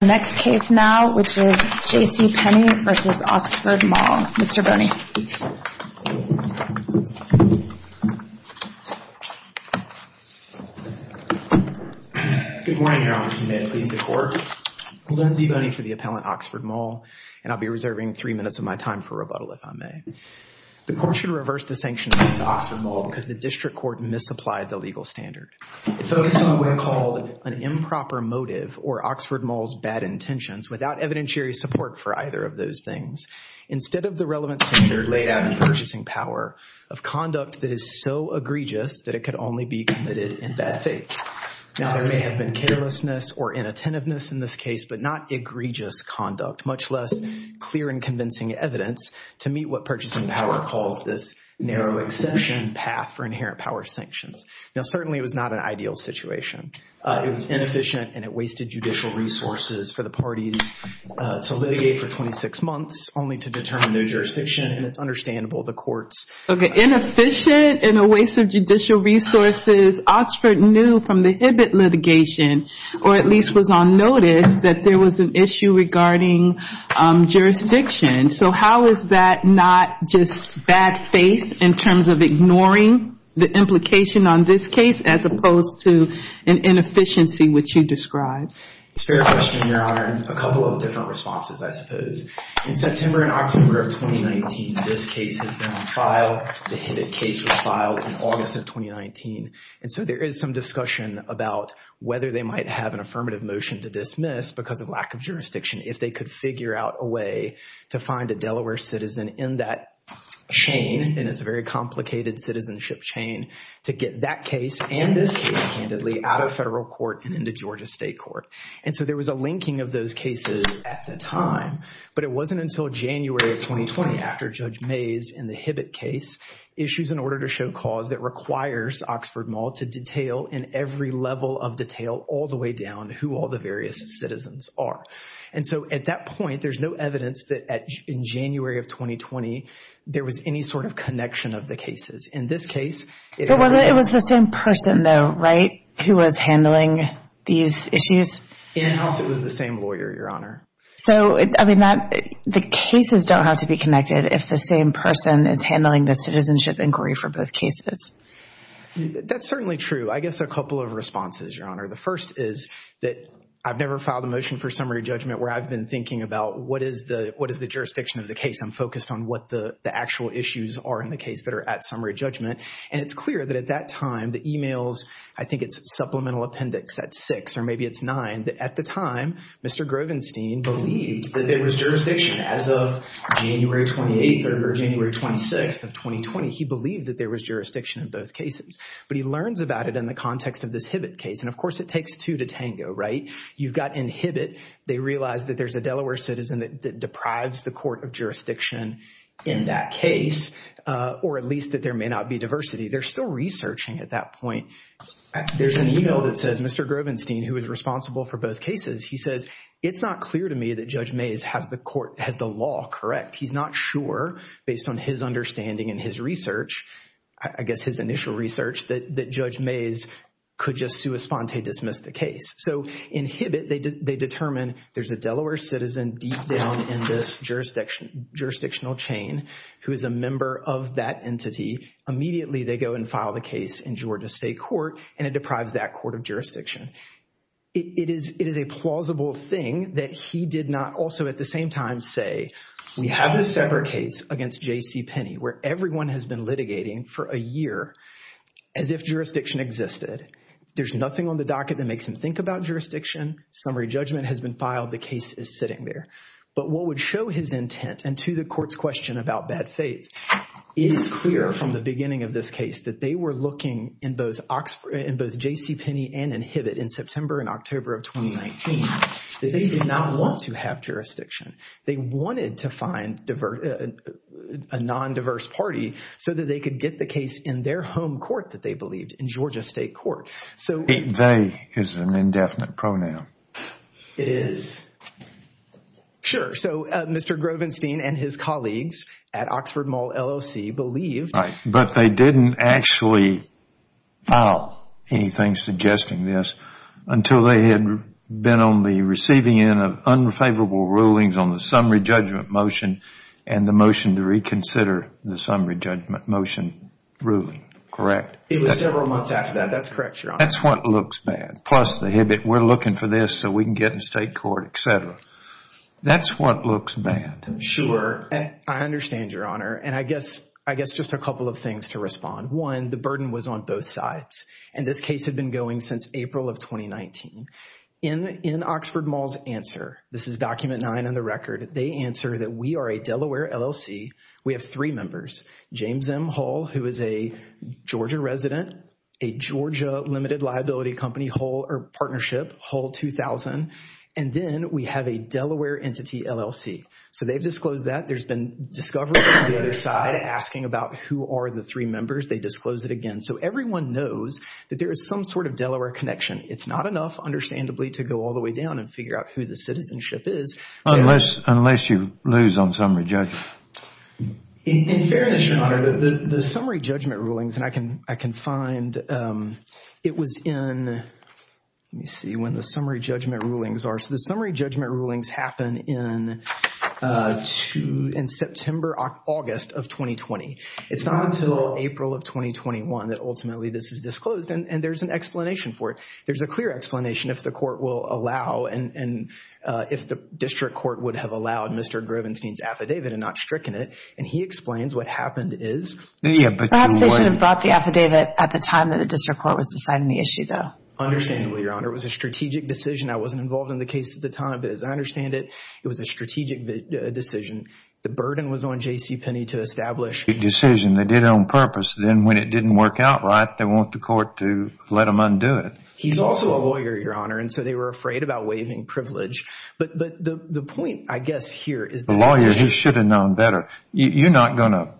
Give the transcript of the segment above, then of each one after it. The next case now, which is J.C. Penney v. Oxford Mall. Mr. Boney. Good morning, Your Honor. Please, the Court. I'm Lindsay Boney for the appellant, Oxford Mall, and I'll be reserving three minutes of my time for rebuttal, if I may. The Court should reverse the sanctions against Oxford Mall because the District Court misapplied the legal standard. Focusing on what are called an improper motive or Oxford Mall's bad intentions without evidentiary support for either of those things, instead of the relevant standard laid out in Purchasing Power of conduct that is so egregious that it could only be committed in bad faith. Now, there may have been carelessness or inattentiveness in this case, but not egregious conduct, much less clear and convincing evidence to meet what Purchasing Power calls this narrow exception path for inherent power sanctions. Now, certainly it was not an ideal situation. It was inefficient, and it wasted judicial resources for the parties to litigate for 26 months only to determine new jurisdiction, and it's understandable the courts— Okay, inefficient and a waste of judicial resources. Oxford knew from the Hibbitt litigation, or at least was on notice, that there was an issue regarding jurisdiction. So, how is that not just bad faith in terms of ignoring the implication on this case as opposed to an inefficiency which you described? It's a fair question, Your Honor, and a couple of different responses, I suppose. In September and October of 2019, this case has been on trial. The Hibbitt case was filed in August of 2019, and so there is some discussion about whether they might have an affirmative motion to dismiss because of lack of jurisdiction if they could figure out a way to find a Delaware citizen in that chain, and it's a very complicated citizenship chain, to get that case and this case, candidly, out of federal court and into Georgia state court. And so there was a linking of those cases at the time, but it wasn't until January of 2020, after Judge Mays in the Hibbitt case, issues an order to show cause that requires Oxford Mall to detail in every level of detail, all the way down, who all the various citizens are. And so at that point, there's no evidence that in January of 2020, there was any sort of connection of the cases. In this case, it was the same person though, right, who was handling these issues? Yes, it was the same lawyer, Your Honor. So, I mean, the cases don't have to be connected if the same person is handling the citizenship inquiry for both cases. That's certainly true. I guess a couple of responses, Your Honor. The first is that I've never filed a motion for summary judgment where I've been thinking about what is the jurisdiction of the case. I'm focused on what the actual issues are in the case that are at summary judgment. And it's clear that at that time, the emails, I think it's supplemental appendix at six, or maybe it's nine, that at the time, Mr. Grovenstein believed that there was jurisdiction as of January 28th or January 26th of 2020. He believed that there was jurisdiction in both cases. But he learns about it in the context of this Hibbitt case. And of course, it takes two to tango, right? You've got in Hibbitt, they realize that there's a Delaware citizen that deprives the court of jurisdiction in that case, or at least that there may not be diversity. They're still researching at that point. There's an email that says Mr. Grovenstein, who was responsible for both cases, he says, it's not clear to me that Judge Mays has the court, has the law correct. He's not sure based on his understanding and his research, I guess his initial research, that Judge Mays could just sui sponte dismiss the case. So in Hibbitt, they determine there's a Delaware citizen deep down in this jurisdictional chain who is a member of that entity. Immediately, they go and file the case in Georgia State Court, and it deprives that court of jurisdiction. It is a plausible thing that he did not also at the same time say, we have a separate case against J.C. Penney, where everyone has been litigating for a year as if jurisdiction existed. There's nothing on the docket that makes him think about jurisdiction. Summary judgment has been filed. The case is sitting there. But what would show his intent, and to the court's question about bad faith, it is clear from the beginning of this case that they were looking in both J.C. Penney and in Hibbitt in September and October of 2019, that they did not want to have jurisdiction. They wanted to find a non-diverse party so that they could get the case in their home court that they believed, in Georgia State Court. They is an indefinite pronoun. It is. Sure. So Mr. Grovenstein and his colleagues at Oxford Mall LLC believed. But they didn't actually file anything suggesting this until they had been on the receiving end of unfavorable rulings on the summary judgment motion and the motion to reconsider the summary judgment motion ruling. Correct? It was several months after that. That's correct, Your Honor. That's what looks bad. Plus the Hibbitt, we're looking for this so we can get in state court, etc. That's what looks bad. Sure. I understand, Your Honor. And I guess just a couple of things to respond. One, the burden was on both sides. And this case had been going since April of 2019. In Oxford Mall's answer, this is document nine on the record, they answer that we are a Delaware LLC. We have three members, James M. Hull, who is a Georgia resident, a Georgia limited liability company, Hull, or partnership, Hull 2000. And then we have a Delaware entity LLC. So they've disclosed that. There's been discovery on the other side asking about who are the three members. They disclose it again. So everyone knows that there is some sort of Delaware connection. It's not enough, understandably, to go all the way down and figure out who the citizenship is. Unless you lose on summary judgment. In fairness, Your Honor, the summary judgment rulings, and I can find, it was in, let me see when the summary judgment rulings are. So the summary judgment rulings happen in September, August of 2020. It's not until April of 2021 that ultimately this is disclosed. And there's an explanation for it. There's a clear explanation if the court will allow and if the district court would have allowed Mr. Grevenstein's affidavit and not stricken it. And he explains what happened is. Perhaps they should have brought the affidavit at the time that the district court was deciding the issue though. Understandably, Your Honor. It was a strategic decision. I wasn't involved in the case at the time, but as I understand it, it was a strategic decision. The burden was on J.C. Penney to establish. The decision they did on purpose. Then when it didn't work out right, they want the court to let them undo it. He's also a lawyer, Your Honor. And so they were afraid about waiving privilege. But the point I guess here is. The lawyer, he should have known better. You're not going to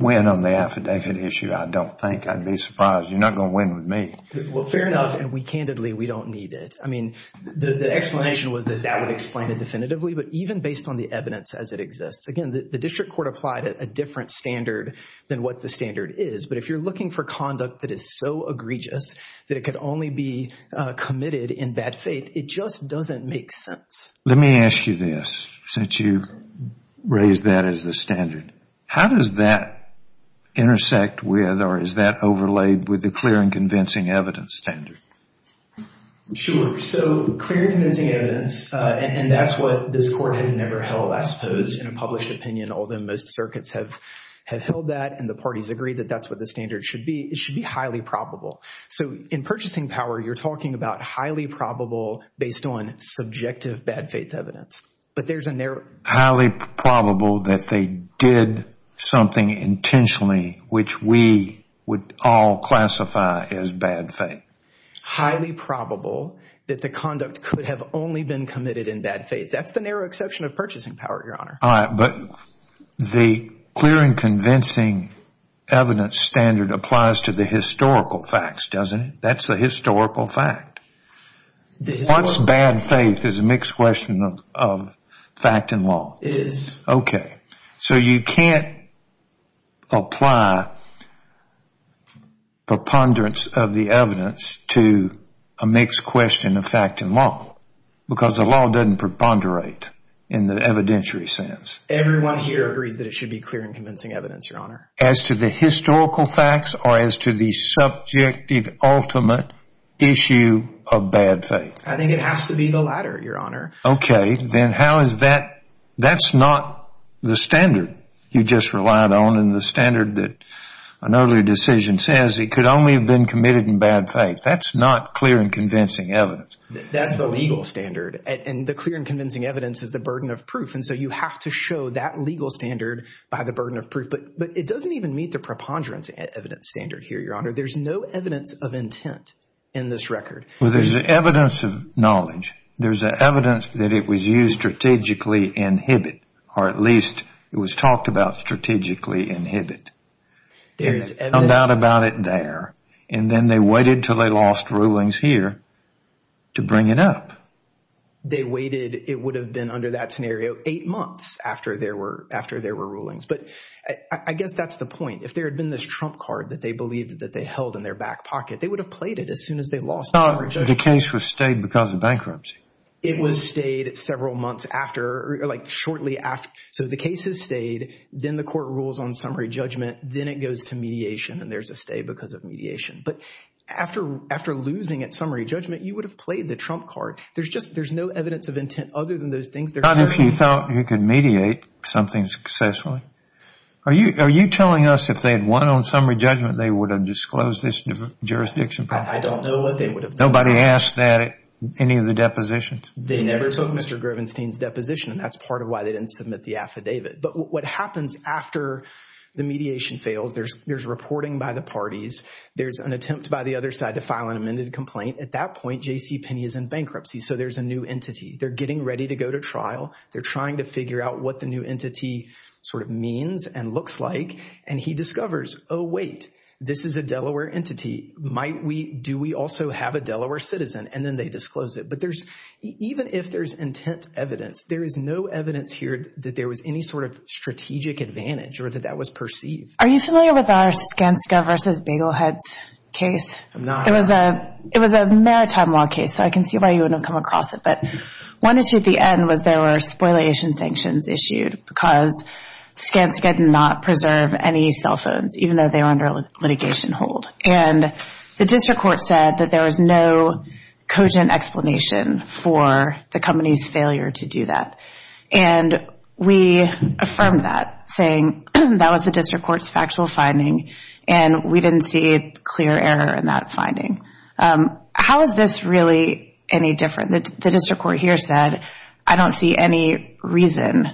win on the affidavit issue. I don't think. I'd be surprised. You're not going to win with me. Well, fair enough. And we candidly, we don't need it. I mean, the explanation was that that would explain it definitively, but even based on the evidence as it exists. Again, the district court applied a different standard than what the standard is. But if you're looking for conduct that is so egregious that it could only be committed in bad faith, it just doesn't make sense. Let me ask you this. Since you raised that as the standard, how does that intersect with or is that overlaid with the clear and convincing evidence standard? Sure. So clear and convincing evidence. And that's what this court has never held, I suppose, in a published opinion. Although most circuits have held that and the parties agree that that's what the standard should be. It should be highly probable. So in purchasing power, you're talking about highly probable based on subjective bad faith evidence. But there's a narrow... Highly probable that they did something intentionally, which we would all classify as bad faith. Highly probable that the conduct could have only been committed in bad faith. That's the narrow exception of purchasing power, Your Honor. All right. But the clear and convincing evidence standard applies to the historical facts, doesn't it? That's the historical fact. What's bad faith is a mixed question of fact and law. It is. Okay. So you can't apply preponderance of the evidence to a mixed question of fact and law because the law doesn't preponderate in the evidentiary sense. Everyone here agrees that it should be clear and convincing evidence, Your Honor. As to the historical facts or as to the subjective ultimate issue of bad faith? I think it has to be the latter, Your Honor. Okay. Then how is that? That's not the standard you just relied on and the standard that an earlier decision says it could only have been committed in bad faith. That's not clear and convincing evidence. That's the legal standard. And the clear and convincing evidence is the burden of proof. And so you have to show that legal standard by the burden of proof. But it doesn't even meet the preponderance evidence standard here, Your Honor. There's no evidence of intent in this record. Well, there's evidence of knowledge. There's evidence that it was used strategically in Hibbitt, or at least it was talked about strategically in Hibbitt. There is evidence. They found out about it there. And then they waited until they lost rulings here to bring it up. They waited, it would have been under that scenario, eight months after there were rulings. But I guess that's the point. If there had been this trump card that they believed that they held in their back pocket, they would have played it as soon as they lost. But the case was stayed because of bankruptcy. It was stayed several months after, like shortly after. So the case is stayed, then the court rules on summary judgment, then it goes to mediation and there's a stay because of mediation. But after losing at summary judgment, you would have played the trump card. There's no evidence of intent other than those things. Not if you thought you could mediate something successfully. Are you telling us if they had won on summary judgment, they would have disclosed this jurisdiction problem? I don't know what they would have done. Nobody asked that at any of the depositions? They never took Mr. Grevenstein's deposition and that's part of why they didn't submit the affidavit. But what happens after the mediation fails, there's reporting by the parties. There's an attempt by the other side to file an amended complaint. At that point, JCPenney is in bankruptcy. So there's a new entity. They're getting ready to go to trial. They're trying to figure out what the new entity sort of means and looks like. And he discovers, oh wait, this is a Delaware entity. Might we, do we also have a Delaware citizen? And then they disclose it. But there's, even if there's intent evidence, there is no evidence here that there was any sort of strategic advantage or that that was perceived. Are you familiar with our Skanska versus Bagel Heads case? I'm not. It was a maritime law case. So I can see why you wouldn't have come across it. But one issue at the end was there were spoliation sanctions issued because Skanska did not preserve any cell phones, even though they were under litigation hold. And the district court said that there was no cogent explanation for the company's failure to do that. And we affirmed that, saying that was the district court's factual finding. And we didn't see clear error in that finding. How is this really any different? The district court here said, I don't see any reason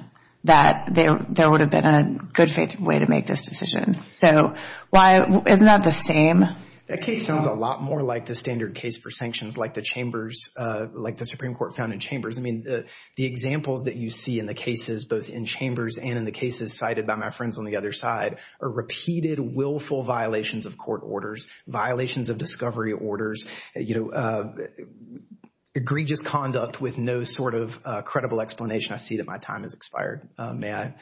that there would have been a good faith way to make this decision. So why, isn't that the same? That case sounds a lot more like the standard case for sanctions, like the chambers, like the Supreme Court found in chambers. I mean, the examples that you see in the cases, both in chambers and in the cases cited by my friends on the other side, are repeated willful violations of court orders, violations of discovery orders, you know, egregious conduct with no sort of credible explanation. I see that my time has expired. May I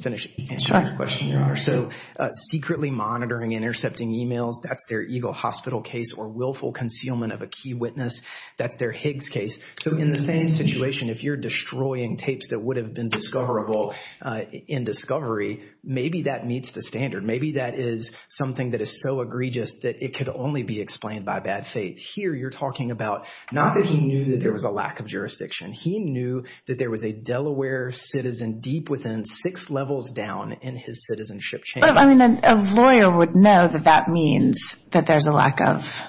finish answering your question, Your Honor? So secretly monitoring and intercepting emails, that's their Eagle Hospital case, or willful concealment of a key witness, that's their Higgs case. So in the same situation, if you're destroying tapes that would have been discoverable in discovery, maybe that meets the standard. Maybe that is something that is so egregious that it could only be explained by bad faith. Here, you're talking about, not that he knew that there was a lack of jurisdiction. He knew that there was a Delaware citizen deep within six levels down in his citizenship chain. I mean, a lawyer would know that that means that there's a lack of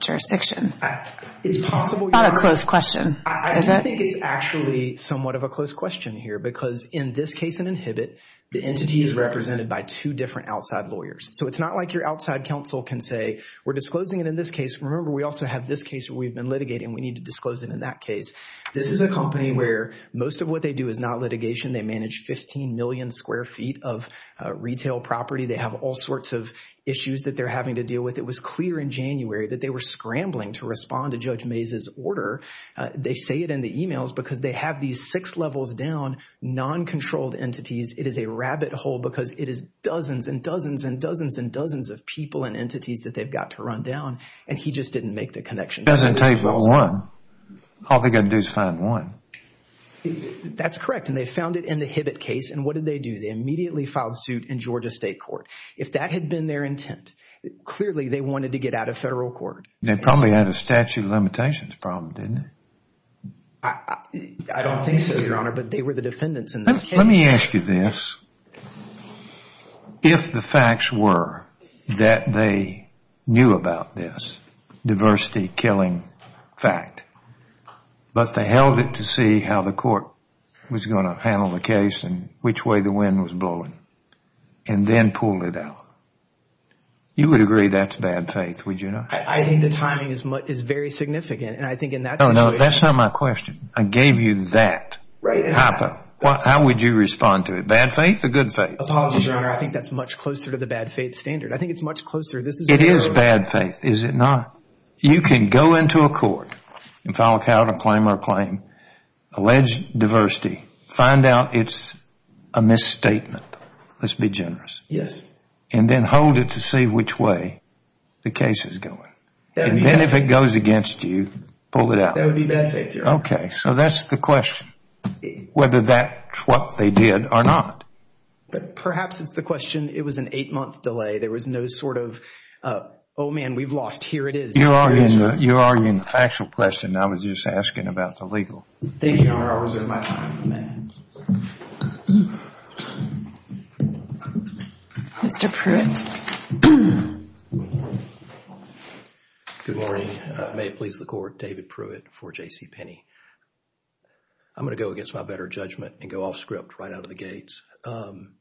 jurisdiction. It's possible— It's not a close question, is it? I do think it's actually somewhat of a close question here, because in this case in Inhibit, the entity is represented by two different outside lawyers. So it's not like your outside counsel can say, we're disclosing it in this case. Remember, we also have this case where we've been litigating. We need to disclose it in that case. This is a company where most of what they do is not litigation. They manage 15 million square feet of retail property. They have all sorts of issues that they're having to deal with. It was clear in January that they were scrambling to respond to Judge Mays's order. They say it in the emails because they have these six levels down, non-controlled entities. It is a rabbit hole because it is dozens and dozens and dozens and dozens of people and entities that they've got to run down, and he just didn't make the connection. It doesn't take but one. All they've got to do is find one. That's correct, and they found it in the Inhibit case, and what did they do? They immediately filed suit in Georgia State Court. If that had been their intent, clearly they wanted to get out of federal court. They probably had a statute of limitations problem, didn't they? Let me ask you this. If the facts were that they knew about this diversity killing fact, but they held it to see how the court was going to handle the case and which way the wind was blowing, and then pulled it out, you would agree that's bad faith, would you not? I think the timing is very significant, and I think in that situation... No, no, that's not my question. I gave you that. How would you respond to it? Bad faith or good faith? Apologies, Your Honor. I think that's much closer to the bad faith standard. I think it's much closer. It is bad faith, is it not? You can go into a court and file a count or claim or claim, allege diversity, find out it's a misstatement. Let's be generous. Yes. And then hold it to see which way the case is going. And then if it goes against you, pull it out. That would be bad faith, Your Honor. Okay, so that's the question. Whether that's what they did or not. But perhaps it's the question, it was an eight-month delay. There was no sort of, oh man, we've lost. Here it is. You're arguing the factual question. I was just asking about the legal. Thank you, Your Honor. I'll reserve my time. Mr. Pruitt. Good morning. May it please the Court. David Pruitt for JCPenney. I'm going to go against my better judgment and go off script right out of the gates. The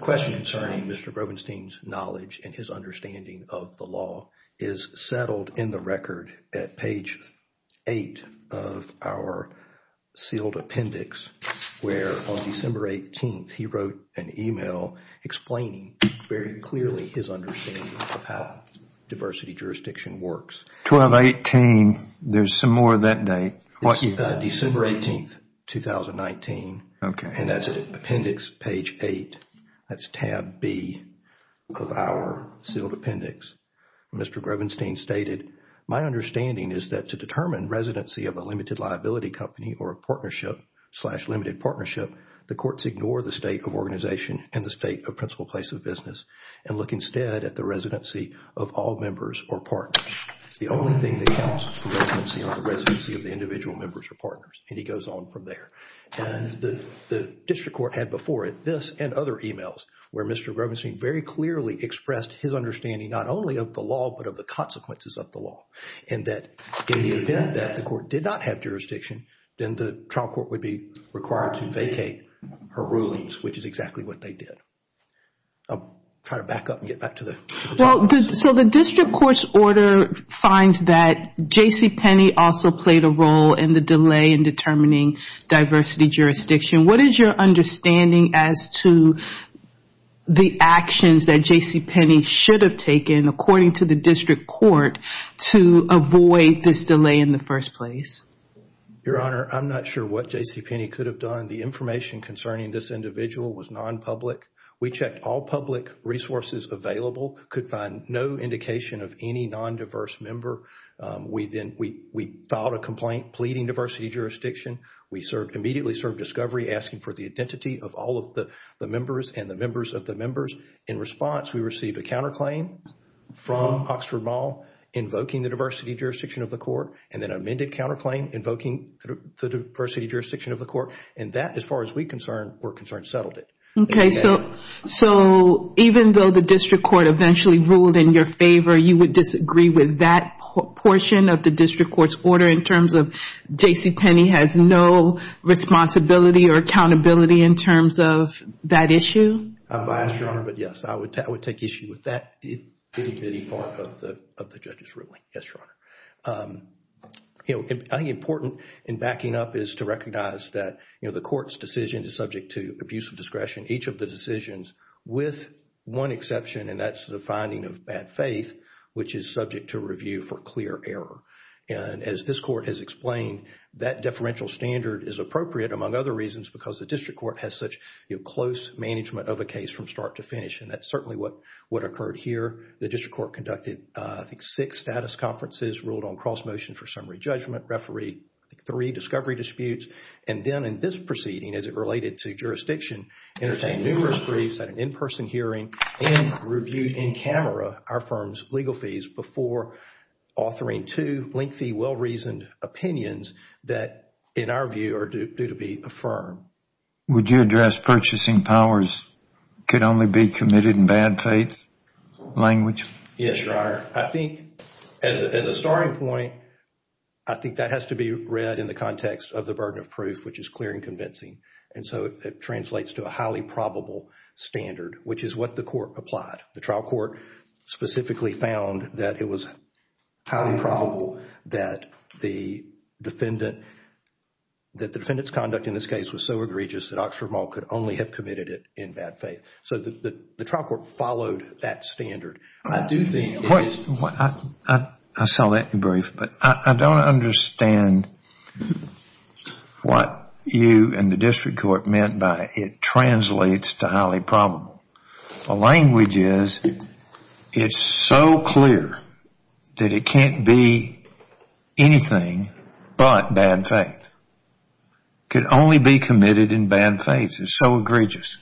question concerning Mr. Brobenstein's knowledge and his understanding of the law is settled in the record at page eight of our sealed appendix, where on December 18th, he wrote an email explaining very clearly his understanding of how diversity jurisdiction works. 12-18, there's some more that day. December 18th, 2019. Okay. And that's appendix page eight. That's tab B of our sealed appendix. Mr. Brobenstein stated, my understanding is that to determine residency of a limited liability company or a partnership slash limited partnership, the courts ignore the state of organization and the state of principal place of business and look instead at the residency of all members or partners. The only thing that counts is the residency of the individual members or partners. And he goes on from there. And the district court had before it this and other emails where Mr. Brobenstein very clearly expressed his understanding, not only of the law, but of the consequences of the law. And that in the event that the court did not have jurisdiction, then the trial court would be required to vacate her rulings, which is exactly what they did. I'll try to back up and get back to the- So the district court's order finds that JCPenney also played a role in the delay in determining diversity jurisdiction. What is your understanding as to the actions that JCPenney should have taken, according to the district court, to avoid this delay in the first place? Your Honor, I'm not sure what JCPenney could have done. The information concerning this individual was non-public. We checked all public resources available, could find no indication of any non-diverse member. We filed a complaint pleading diversity jurisdiction. We immediately served discovery asking for the identity of all of the members and the members of the members. In response, we received a counterclaim from Oxford Mall invoking the diversity jurisdiction of the court and then amended counterclaim invoking the diversity jurisdiction of the court. And that, as far as we're concerned, settled it. Okay, so even though the district court eventually ruled in your favor, you would disagree with that portion of the district court's order in terms of JCPenney has no responsibility or accountability in terms of that issue? I'm biased, Your Honor, but yes, I would take issue with that itty-bitty part of the judge's ruling, yes, Your Honor. I think important in backing up is to recognize that the court's decision is subject to abuse of discretion, each of the decisions with one exception, and that's the finding of bad faith, which is subject to review for clear error. And as this court has explained, that deferential standard is appropriate, among other reasons, because the district court has such close management of a case from start to finish. And that's certainly what occurred here. The district court conducted, I think, six status conferences, ruled on cross motion for summary judgment, referee three discovery disputes. And then in this proceeding, as it related to jurisdiction, entertained numerous briefs at an in-person hearing and reviewed in camera our firm's legal fees before authoring two lengthy, well-reasoned opinions that, in our view, are due to be affirmed. Would you address purchasing powers could only be committed in bad faith language? Yes, Your Honor. I think as a starting point, I think that has to be read in the context of the burden of proof, which is clear and convincing. And so it translates to a highly probable standard, which is what the court applied. The trial court specifically found that it was highly probable that the defendant's conduct in this case was so egregious that Oxford Mall could only have committed it in bad faith. So the trial court followed that standard. I do think it is...... what you and the district court meant by it translates to highly probable. The language is it's so clear that it can't be anything but bad faith. Could only be committed in bad faith. It's so egregious.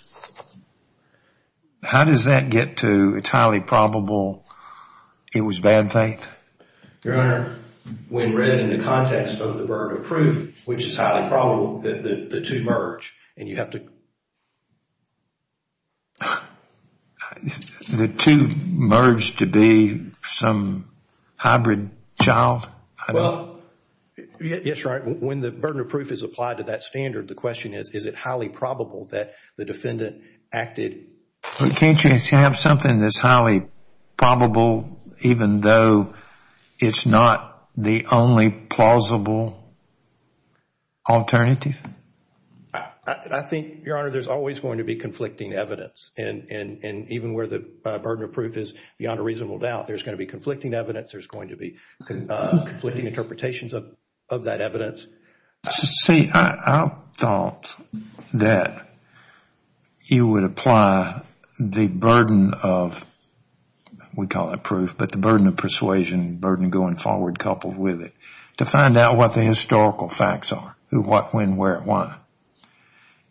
How does that get to it's highly probable it was bad faith? Your Honor, when read in the context of the burden of proof, which is highly probable, the two merge and you have to... The two merge to be some hybrid child? Yes, Your Honor. When the burden of proof is applied to that standard, the question is, is it highly probable that the defendant acted... Can't you have something that's highly probable even though it's not the only plausible alternative? I think, Your Honor, there's always going to be conflicting evidence. And even where the burden of proof is beyond a reasonable doubt, there's going to be conflicting evidence. There's going to be conflicting interpretations of that evidence. See, I thought that you would apply the burden of... We call it proof, but the burden of persuasion, burden going forward coupled with it, to find out what the historical facts are. Who, what, when, where, why.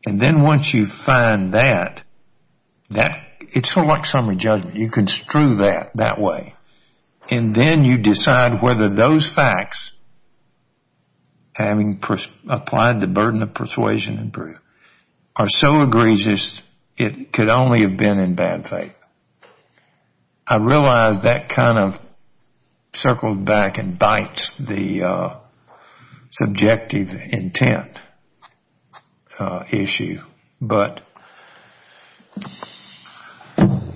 And then once you find that, it's sort of like summary judgment. You construe that that way. And then you decide whether those facts, having applied the burden of persuasion and proof, are so egregious it could only have been in bad faith. And I realize that kind of circled back and bites the subjective intent issue, but...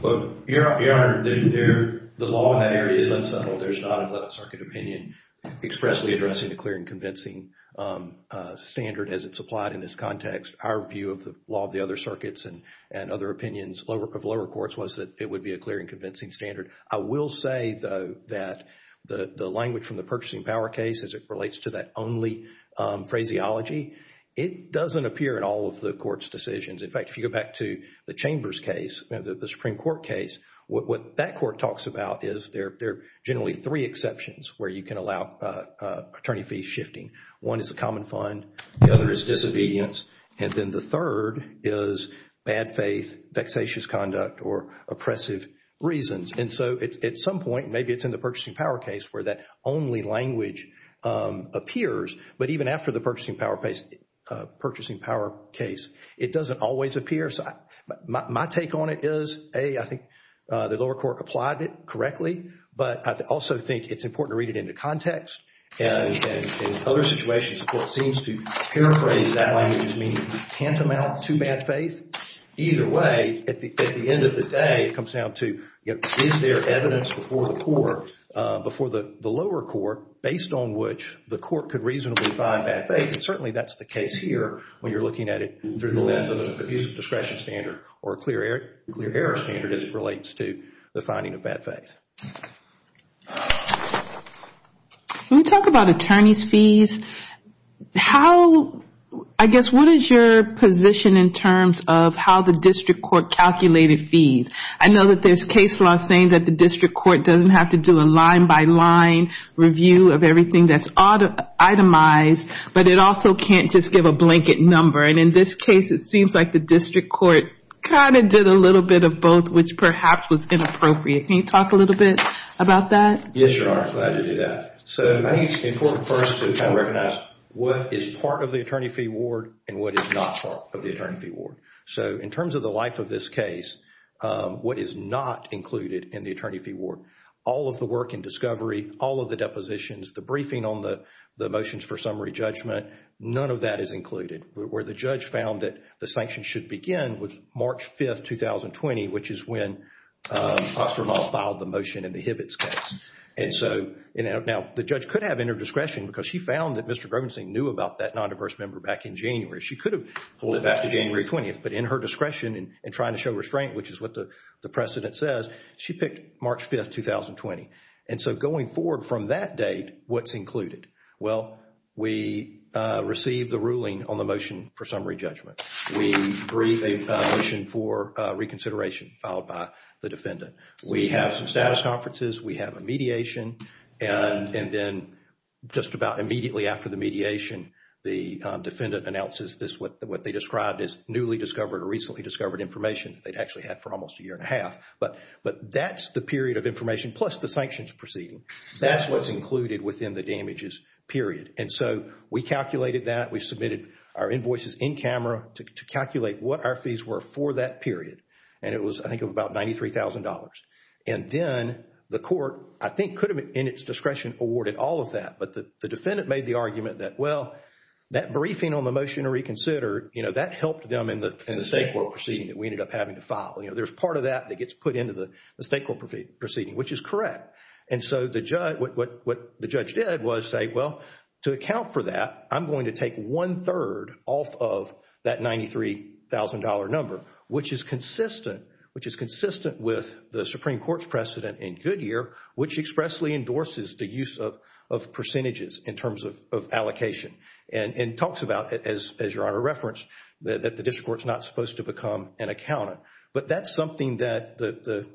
But, Your Honor, the law in that area is unsettled. There's not a 11th Circuit opinion expressly addressing the clear and convincing standard as it's applied in this context. Our view of the law of the other circuits and other opinions of lower courts was that it would be a clear and convincing standard. I will say, though, that the language from the purchasing power case, as it relates to that only phraseology, it doesn't appear in all of the court's decisions. In fact, if you go back to the Chambers case, the Supreme Court case, what that court talks about is there are generally three exceptions where you can allow attorney fees shifting. One is the common fund. The other is disobedience. And then the third is bad faith, vexatious conduct, or oppressive reasons. And so at some point, maybe it's in the purchasing power case where that only language appears. But even after the purchasing power case, it doesn't always appear. So my take on it is, A, I think the lower court applied it correctly. But I also think it's important to read it into context. And in other situations, the court seems to paraphrase that language meaning tantamount to bad faith. Either way, at the end of the day, it comes down to, is there evidence before the lower court based on which the court could reasonably find bad faith? And certainly that's the case here when you're looking at it through the lens of an abuse of discretion standard or a clear error standard as it relates to the finding of bad faith. Can we talk about attorney's fees? How, I guess, what is your position in terms of how the district court calculated fees? I know that there's case law saying that the district court doesn't have to do a line by line review of everything that's itemized. But it also can't just give a blanket number. And in this case, it seems like the district court kind of did a little bit of both, which perhaps was inappropriate. Can you talk a little bit about that? Yes, Your Honor. Glad to do that. So, I think it's important first to kind of recognize what is part of the attorney fee award and what is not part of the attorney fee award. So, in terms of the life of this case, what is not included in the attorney fee award? All of the work in discovery, all of the depositions, the briefing on the motions for summary judgment, none of that is included. Where the judge found that the sanction should begin was March 5th, 2020, which is when Oxford Law filed the motion in the Hibbitts case. And so, now the judge could have inner discretion because she found that Mr. Grobenson knew about that non-diverse member back in January. She could have pulled it back to January 20th, but in her discretion and trying to show restraint, which is what the precedent says, she picked March 5th, 2020. And so, going forward from that date, what's included? Well, we received the ruling on the motion for summary judgment. We briefed a motion for reconsideration filed by the defendant. We have some status conferences. We have a mediation. And then just about immediately after the mediation, the defendant announces this, what they described as newly discovered or recently discovered information they'd actually had for almost a year and a half. But that's the period of information plus the sanctions proceeding. That's what's included within the damages period. And so, we calculated that. We submitted our invoices in camera to calculate what our fees were for that period. And it was, I think, about $93,000. And then the court, I think, could have, in its discretion, awarded all of that. But the defendant made the argument that, well, that briefing on the motion to reconsider, you know, that helped them in the state court proceeding that we ended up having to file. You know, there's part of that that gets put into the state court proceeding, which is correct. And so, what the judge did was say, well, to account for that, I'm going to take one third off of that $93,000 number, which is consistent, which is consistent with the Supreme Court's precedent in Goodyear, which expressly endorses the use of percentages in terms of allocation. And talks about, as Your Honor referenced, that the district court's not supposed to become an accountant. But that's something that the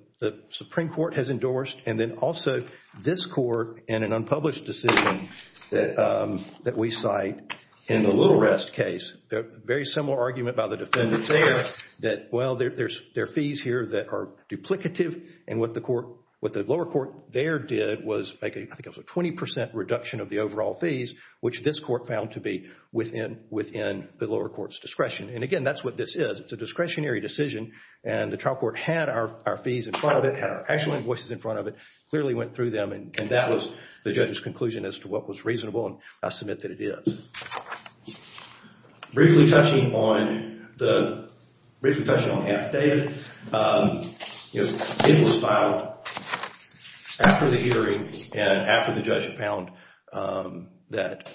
Supreme Court has endorsed. And then also, this court, in an unpublished decision that we cite in the Little Rest case, very similar argument by the defendants there, that, well, there are fees here that are duplicative. And what the lower court there did was make, I think it was a 20% reduction of the overall fees, which this court found to be within the lower court's discretion. And again, that's what this is. It's a discretionary decision. And the trial court had our fees in front of it, had our actual invoices in front of it, clearly went through them. And that was the judge's conclusion as to what was reasonable. And I submit that it is. Briefly touching on the, briefly touching on affidavit. It was filed after the hearing and after the judge found that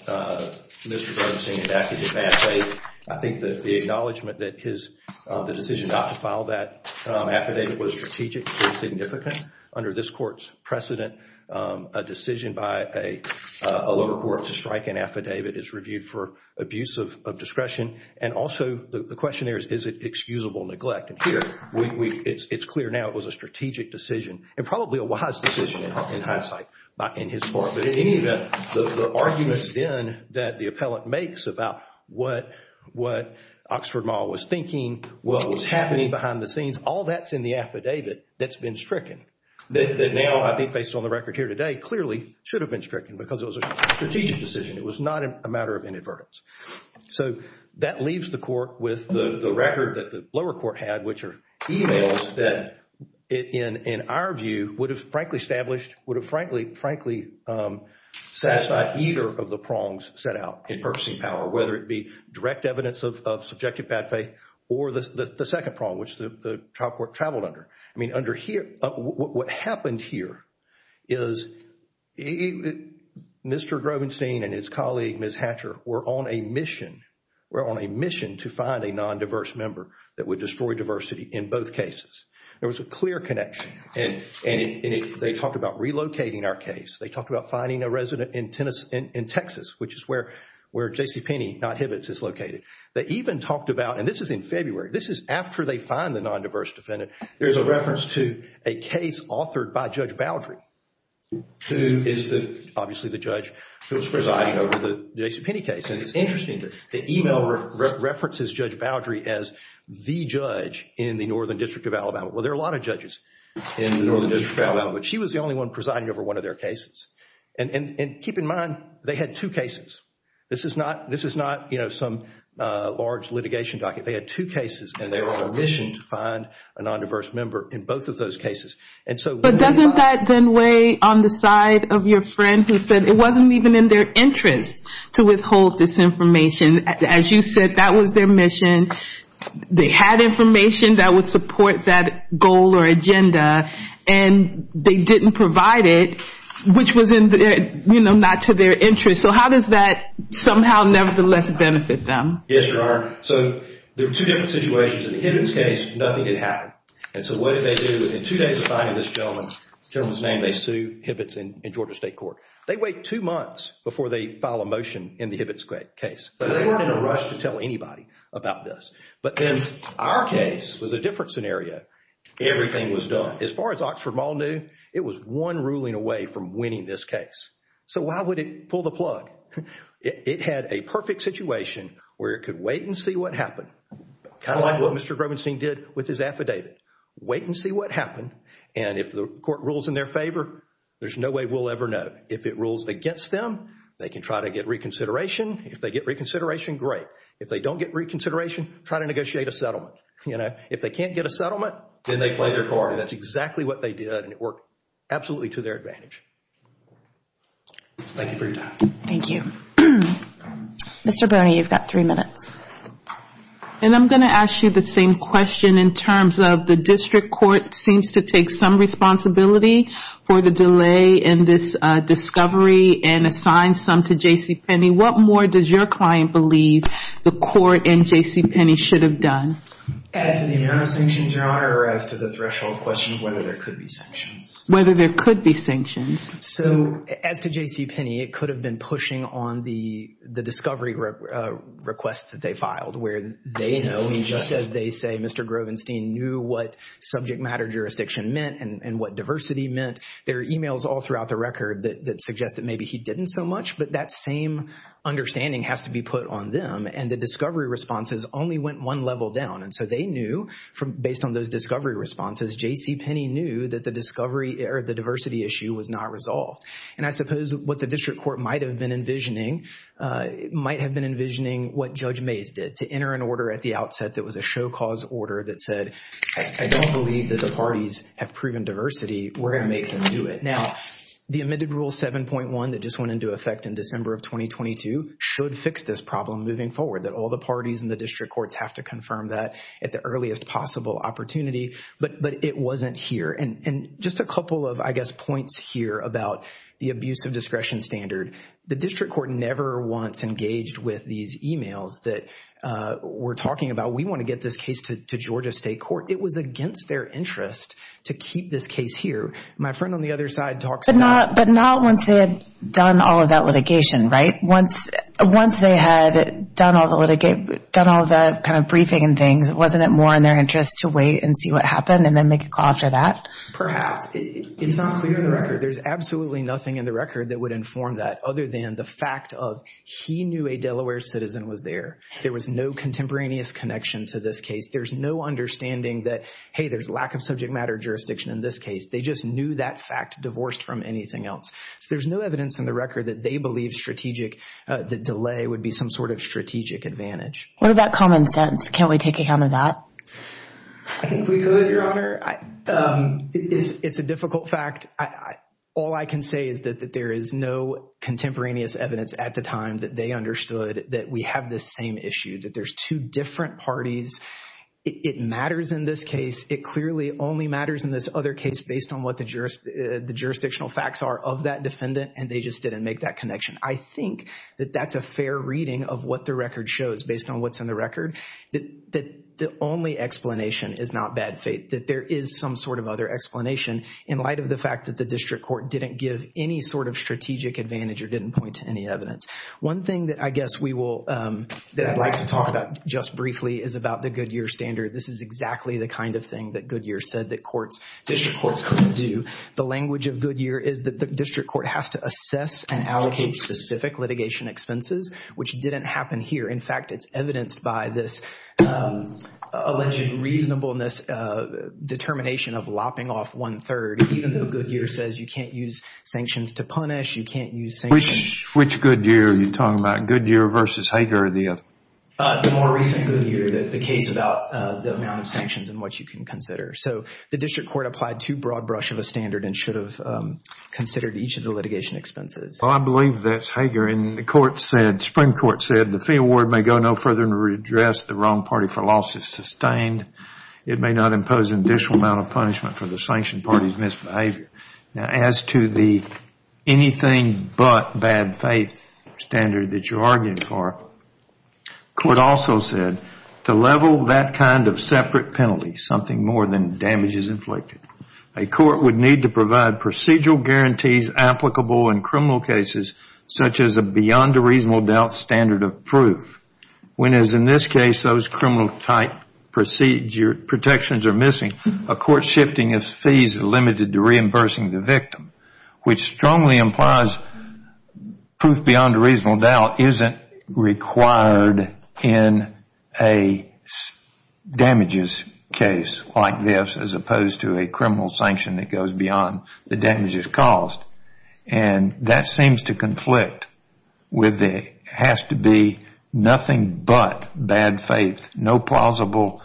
Mr. Duggan's saying that affidavit may have failed. I think that the acknowledgement that the decision not to file that affidavit was strategic and significant. Under this court's precedent, a decision by a lower court to strike an affidavit is reviewed for abuse of discretion. And also the question there is, is it excusable neglect? And here, it's clear now it was a strategic decision and probably a wise decision in hindsight in his part. But in any event, the arguments then that the appellant makes about what Oxford Mall was thinking, what was happening behind the scenes, all that's in the affidavit that's been stricken. That now, I think based on the record here today, clearly should have been stricken because it was a strategic decision. It was not a matter of inadvertence. So that leaves the court with the record that the lower court had, which are emails that in our view would have frankly established, would have frankly satisfied either of the prongs set out in purchasing power, whether it be direct evidence of subjective bad faith or the second prong, which the trial court traveled under. I mean, what happened here is that Mr. Grovenstein and his colleague, Ms. Hatcher, were on a mission. We're on a mission to find a non-diverse member that would destroy diversity in both cases. There was a clear connection. And they talked about relocating our case. They talked about finding a resident in Texas, which is where JCPenney, not Hibbitts, is located. They even talked about, and this is in February, this is after they find the non-diverse defendant. There's a reference to a case authored by Judge Baldry, who is obviously the judge who was presiding over the JCPenney case. And it's interesting that the email references Judge Baldry as the judge in the Northern District of Alabama. Well, there are a lot of judges in the Northern District of Alabama, but she was the only one presiding over one of their cases. And keep in mind, they had two cases. This is not some large litigation docket. They had two cases and they were on a mission to find a non-diverse member in both of those cases. But doesn't that then weigh on the side of your friend who said it wasn't even in their interest to withhold this information? As you said, that was their mission. They had information that would support that goal or agenda and they didn't provide it, which was not to their interest. So how does that somehow, nevertheless, benefit them? Yes, Your Honor. So there were two different situations. In the Hibbitts case, nothing had happened. And so what did they do? In two days of finding this gentleman's name, they sued Hibbitts in Georgia State Court. They wait two months before they file a motion in the Hibbitts case. So they weren't in a rush to tell anybody about this. But in our case, it was a different scenario. Everything was done. As far as Oxford Mall knew, it was one ruling away from winning this case. So why would it pull the plug? It had a perfect situation where it could wait and see what happened. Kind of like what Mr. Grobenstein did with his affidavit. Wait and see what happened. And if the court rules in their favor, there's no way we'll ever know. If it rules against them, they can try to get reconsideration. If they get reconsideration, great. If they don't get reconsideration, try to negotiate a settlement. You know, if they can't get a settlement, then they play their card. That's exactly what they did and it worked absolutely to their advantage. Thank you for your time. Thank you. Mr. Boehner, you've got three minutes. And I'm going to ask you the same question in terms of the district court seems to take some responsibility for the delay in this discovery and assign some to J.C. Penney. What more does your client believe the court and J.C. Penney should have done? As to the amount of sanctions, Your Honor, or as to the threshold question of whether there could be sanctions? Whether there could be sanctions. So as to J.C. Penney, it could have been pushing on the discovery request that they filed where they know, as they say, Mr. Grovenstein knew what subject matter jurisdiction meant and what diversity meant. There are emails all throughout the record that suggest that maybe he didn't so much, but that same understanding has to be put on them. And the discovery responses only went one level down. And so they knew, based on those discovery responses, J.C. Penney knew that the discovery or the diversity issue was not resolved. And I suppose what the district court might have been envisioning, might have been envisioning what Judge Mays did to enter an order at the outset that was a show cause order that said, I don't believe that the parties have proven diversity. We're going to make them do it. Now, the admitted rule 7.1 that just went into effect in December of 2022 should fix this problem moving forward, that all the parties in the district courts have to confirm that at the earliest possible opportunity. But it wasn't here. And just a couple of, I guess, points here about the abuse of discretion standard. The district court never once engaged with these emails that were talking about, we want to get this case to Georgia State Court. It was against their interest to keep this case here. My friend on the other side talks about- But not once they had done all of that litigation, right? Once they had done all the litigate, done all that kind of briefing and things, wasn't it more in their interest to wait and see what happened and then make a call after that? Perhaps. There's absolutely nothing in the record that would inform that other than the fact of he knew a Delaware citizen was there. There was no contemporaneous connection to this case. There's no understanding that, hey, there's lack of subject matter jurisdiction in this case. They just knew that fact divorced from anything else. So there's no evidence in the record that they believe strategic, the delay would be some sort of strategic advantage. What about common sense? Can't we take account of that? I think we could, Your Honor. It's a difficult fact. All I can say is that there is no contemporaneous evidence at the time that they understood that we have this same issue, that there's two different parties. It matters in this case. It clearly only matters in this other case based on what the jurisdictional facts are of that defendant and they just didn't make that connection. I think that that's a fair reading of what the record shows based on what's in the record. The only explanation is not bad faith, that there is some sort of other explanation in light of the fact that the district court didn't give any sort of strategic advantage or didn't point to any evidence. One thing that I guess we will, that I'd like to talk about just briefly is about the Goodyear standard. This is exactly the kind of thing that Goodyear said that courts, district courts couldn't do. The language of Goodyear is that the district court has to assess and allocate specific litigation expenses, which didn't happen here. In fact, it's evidenced by this alleged reasonableness, determination of lopping off one third, even though Goodyear says you can't use sanctions to punish, you can't use sanctions. Which Goodyear are you talking about? Goodyear versus Hager or the other? The more recent Goodyear, the case about the amount of sanctions and what you can consider. So the district court applied too broad brush of a standard and should have considered each of the litigation expenses. Well, I believe that's Hager. And the court said, the Supreme Court said, the fee award may go no further than to redress the wrong party for losses sustained. It may not impose an additional amount of punishment for the sanctioned party's misbehavior. Now, as to the anything but bad faith standard that you argued for, court also said, to level that kind of separate penalty, something more than damages inflicted, a court would need to provide procedural guarantees applicable in criminal cases, such as a beyond a reasonable doubt standard of proof. When, as in this case, those criminal type protections are missing, a court shifting of fees is limited to reimbursing the victim, which strongly implies proof beyond a reasonable doubt isn't required in a damages case like this, as opposed to a criminal sanction that goes beyond the damages caused. And that seems to conflict with the has to be nothing but bad faith, no plausible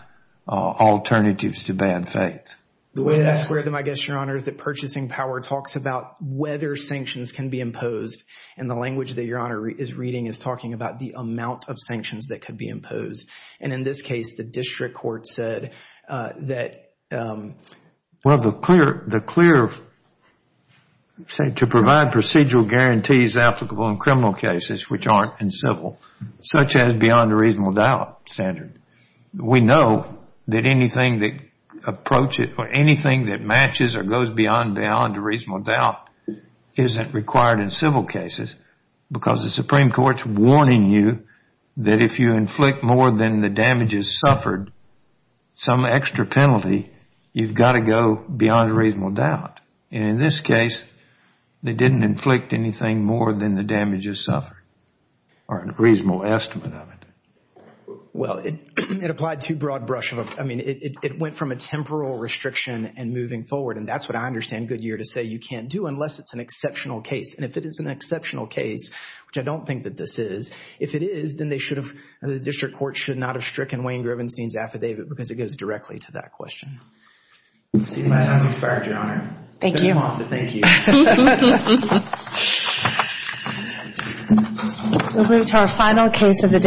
alternatives to bad faith. The way that I square them, I guess, Your Honor, is that purchasing power talks about whether sanctions can be imposed. And the language that Your Honor is reading is talking about the amount of sanctions that could be imposed. And in this case, the district court said that- Well, the clear, to provide procedural guarantees applicable in criminal cases, which aren't in civil, such as beyond a reasonable doubt standard. We know that anything that approaches, or anything that matches or goes beyond beyond a reasonable doubt isn't required in civil cases because the Supreme Court's warning you that if you inflict more than the damages suffered, some extra penalty, you've got to go beyond a reasonable doubt. And in this case, they didn't inflict anything more than the damages suffered, or a reasonable estimate of it. Well, it applied to broad brush. I mean, it went from a temporal restriction and moving forward. And that's what I understand Goodyear to say you can't do unless it's an exceptional case. And if it is an exceptional case, which I don't think that this is, if it is, then they should have, the district court should not have stricken Wayne Grubenstein's affidavit because it goes directly to that question. I see my time has expired, Your Honor. Thank you. It's been a month, but thank you. We'll move to our final case of the day.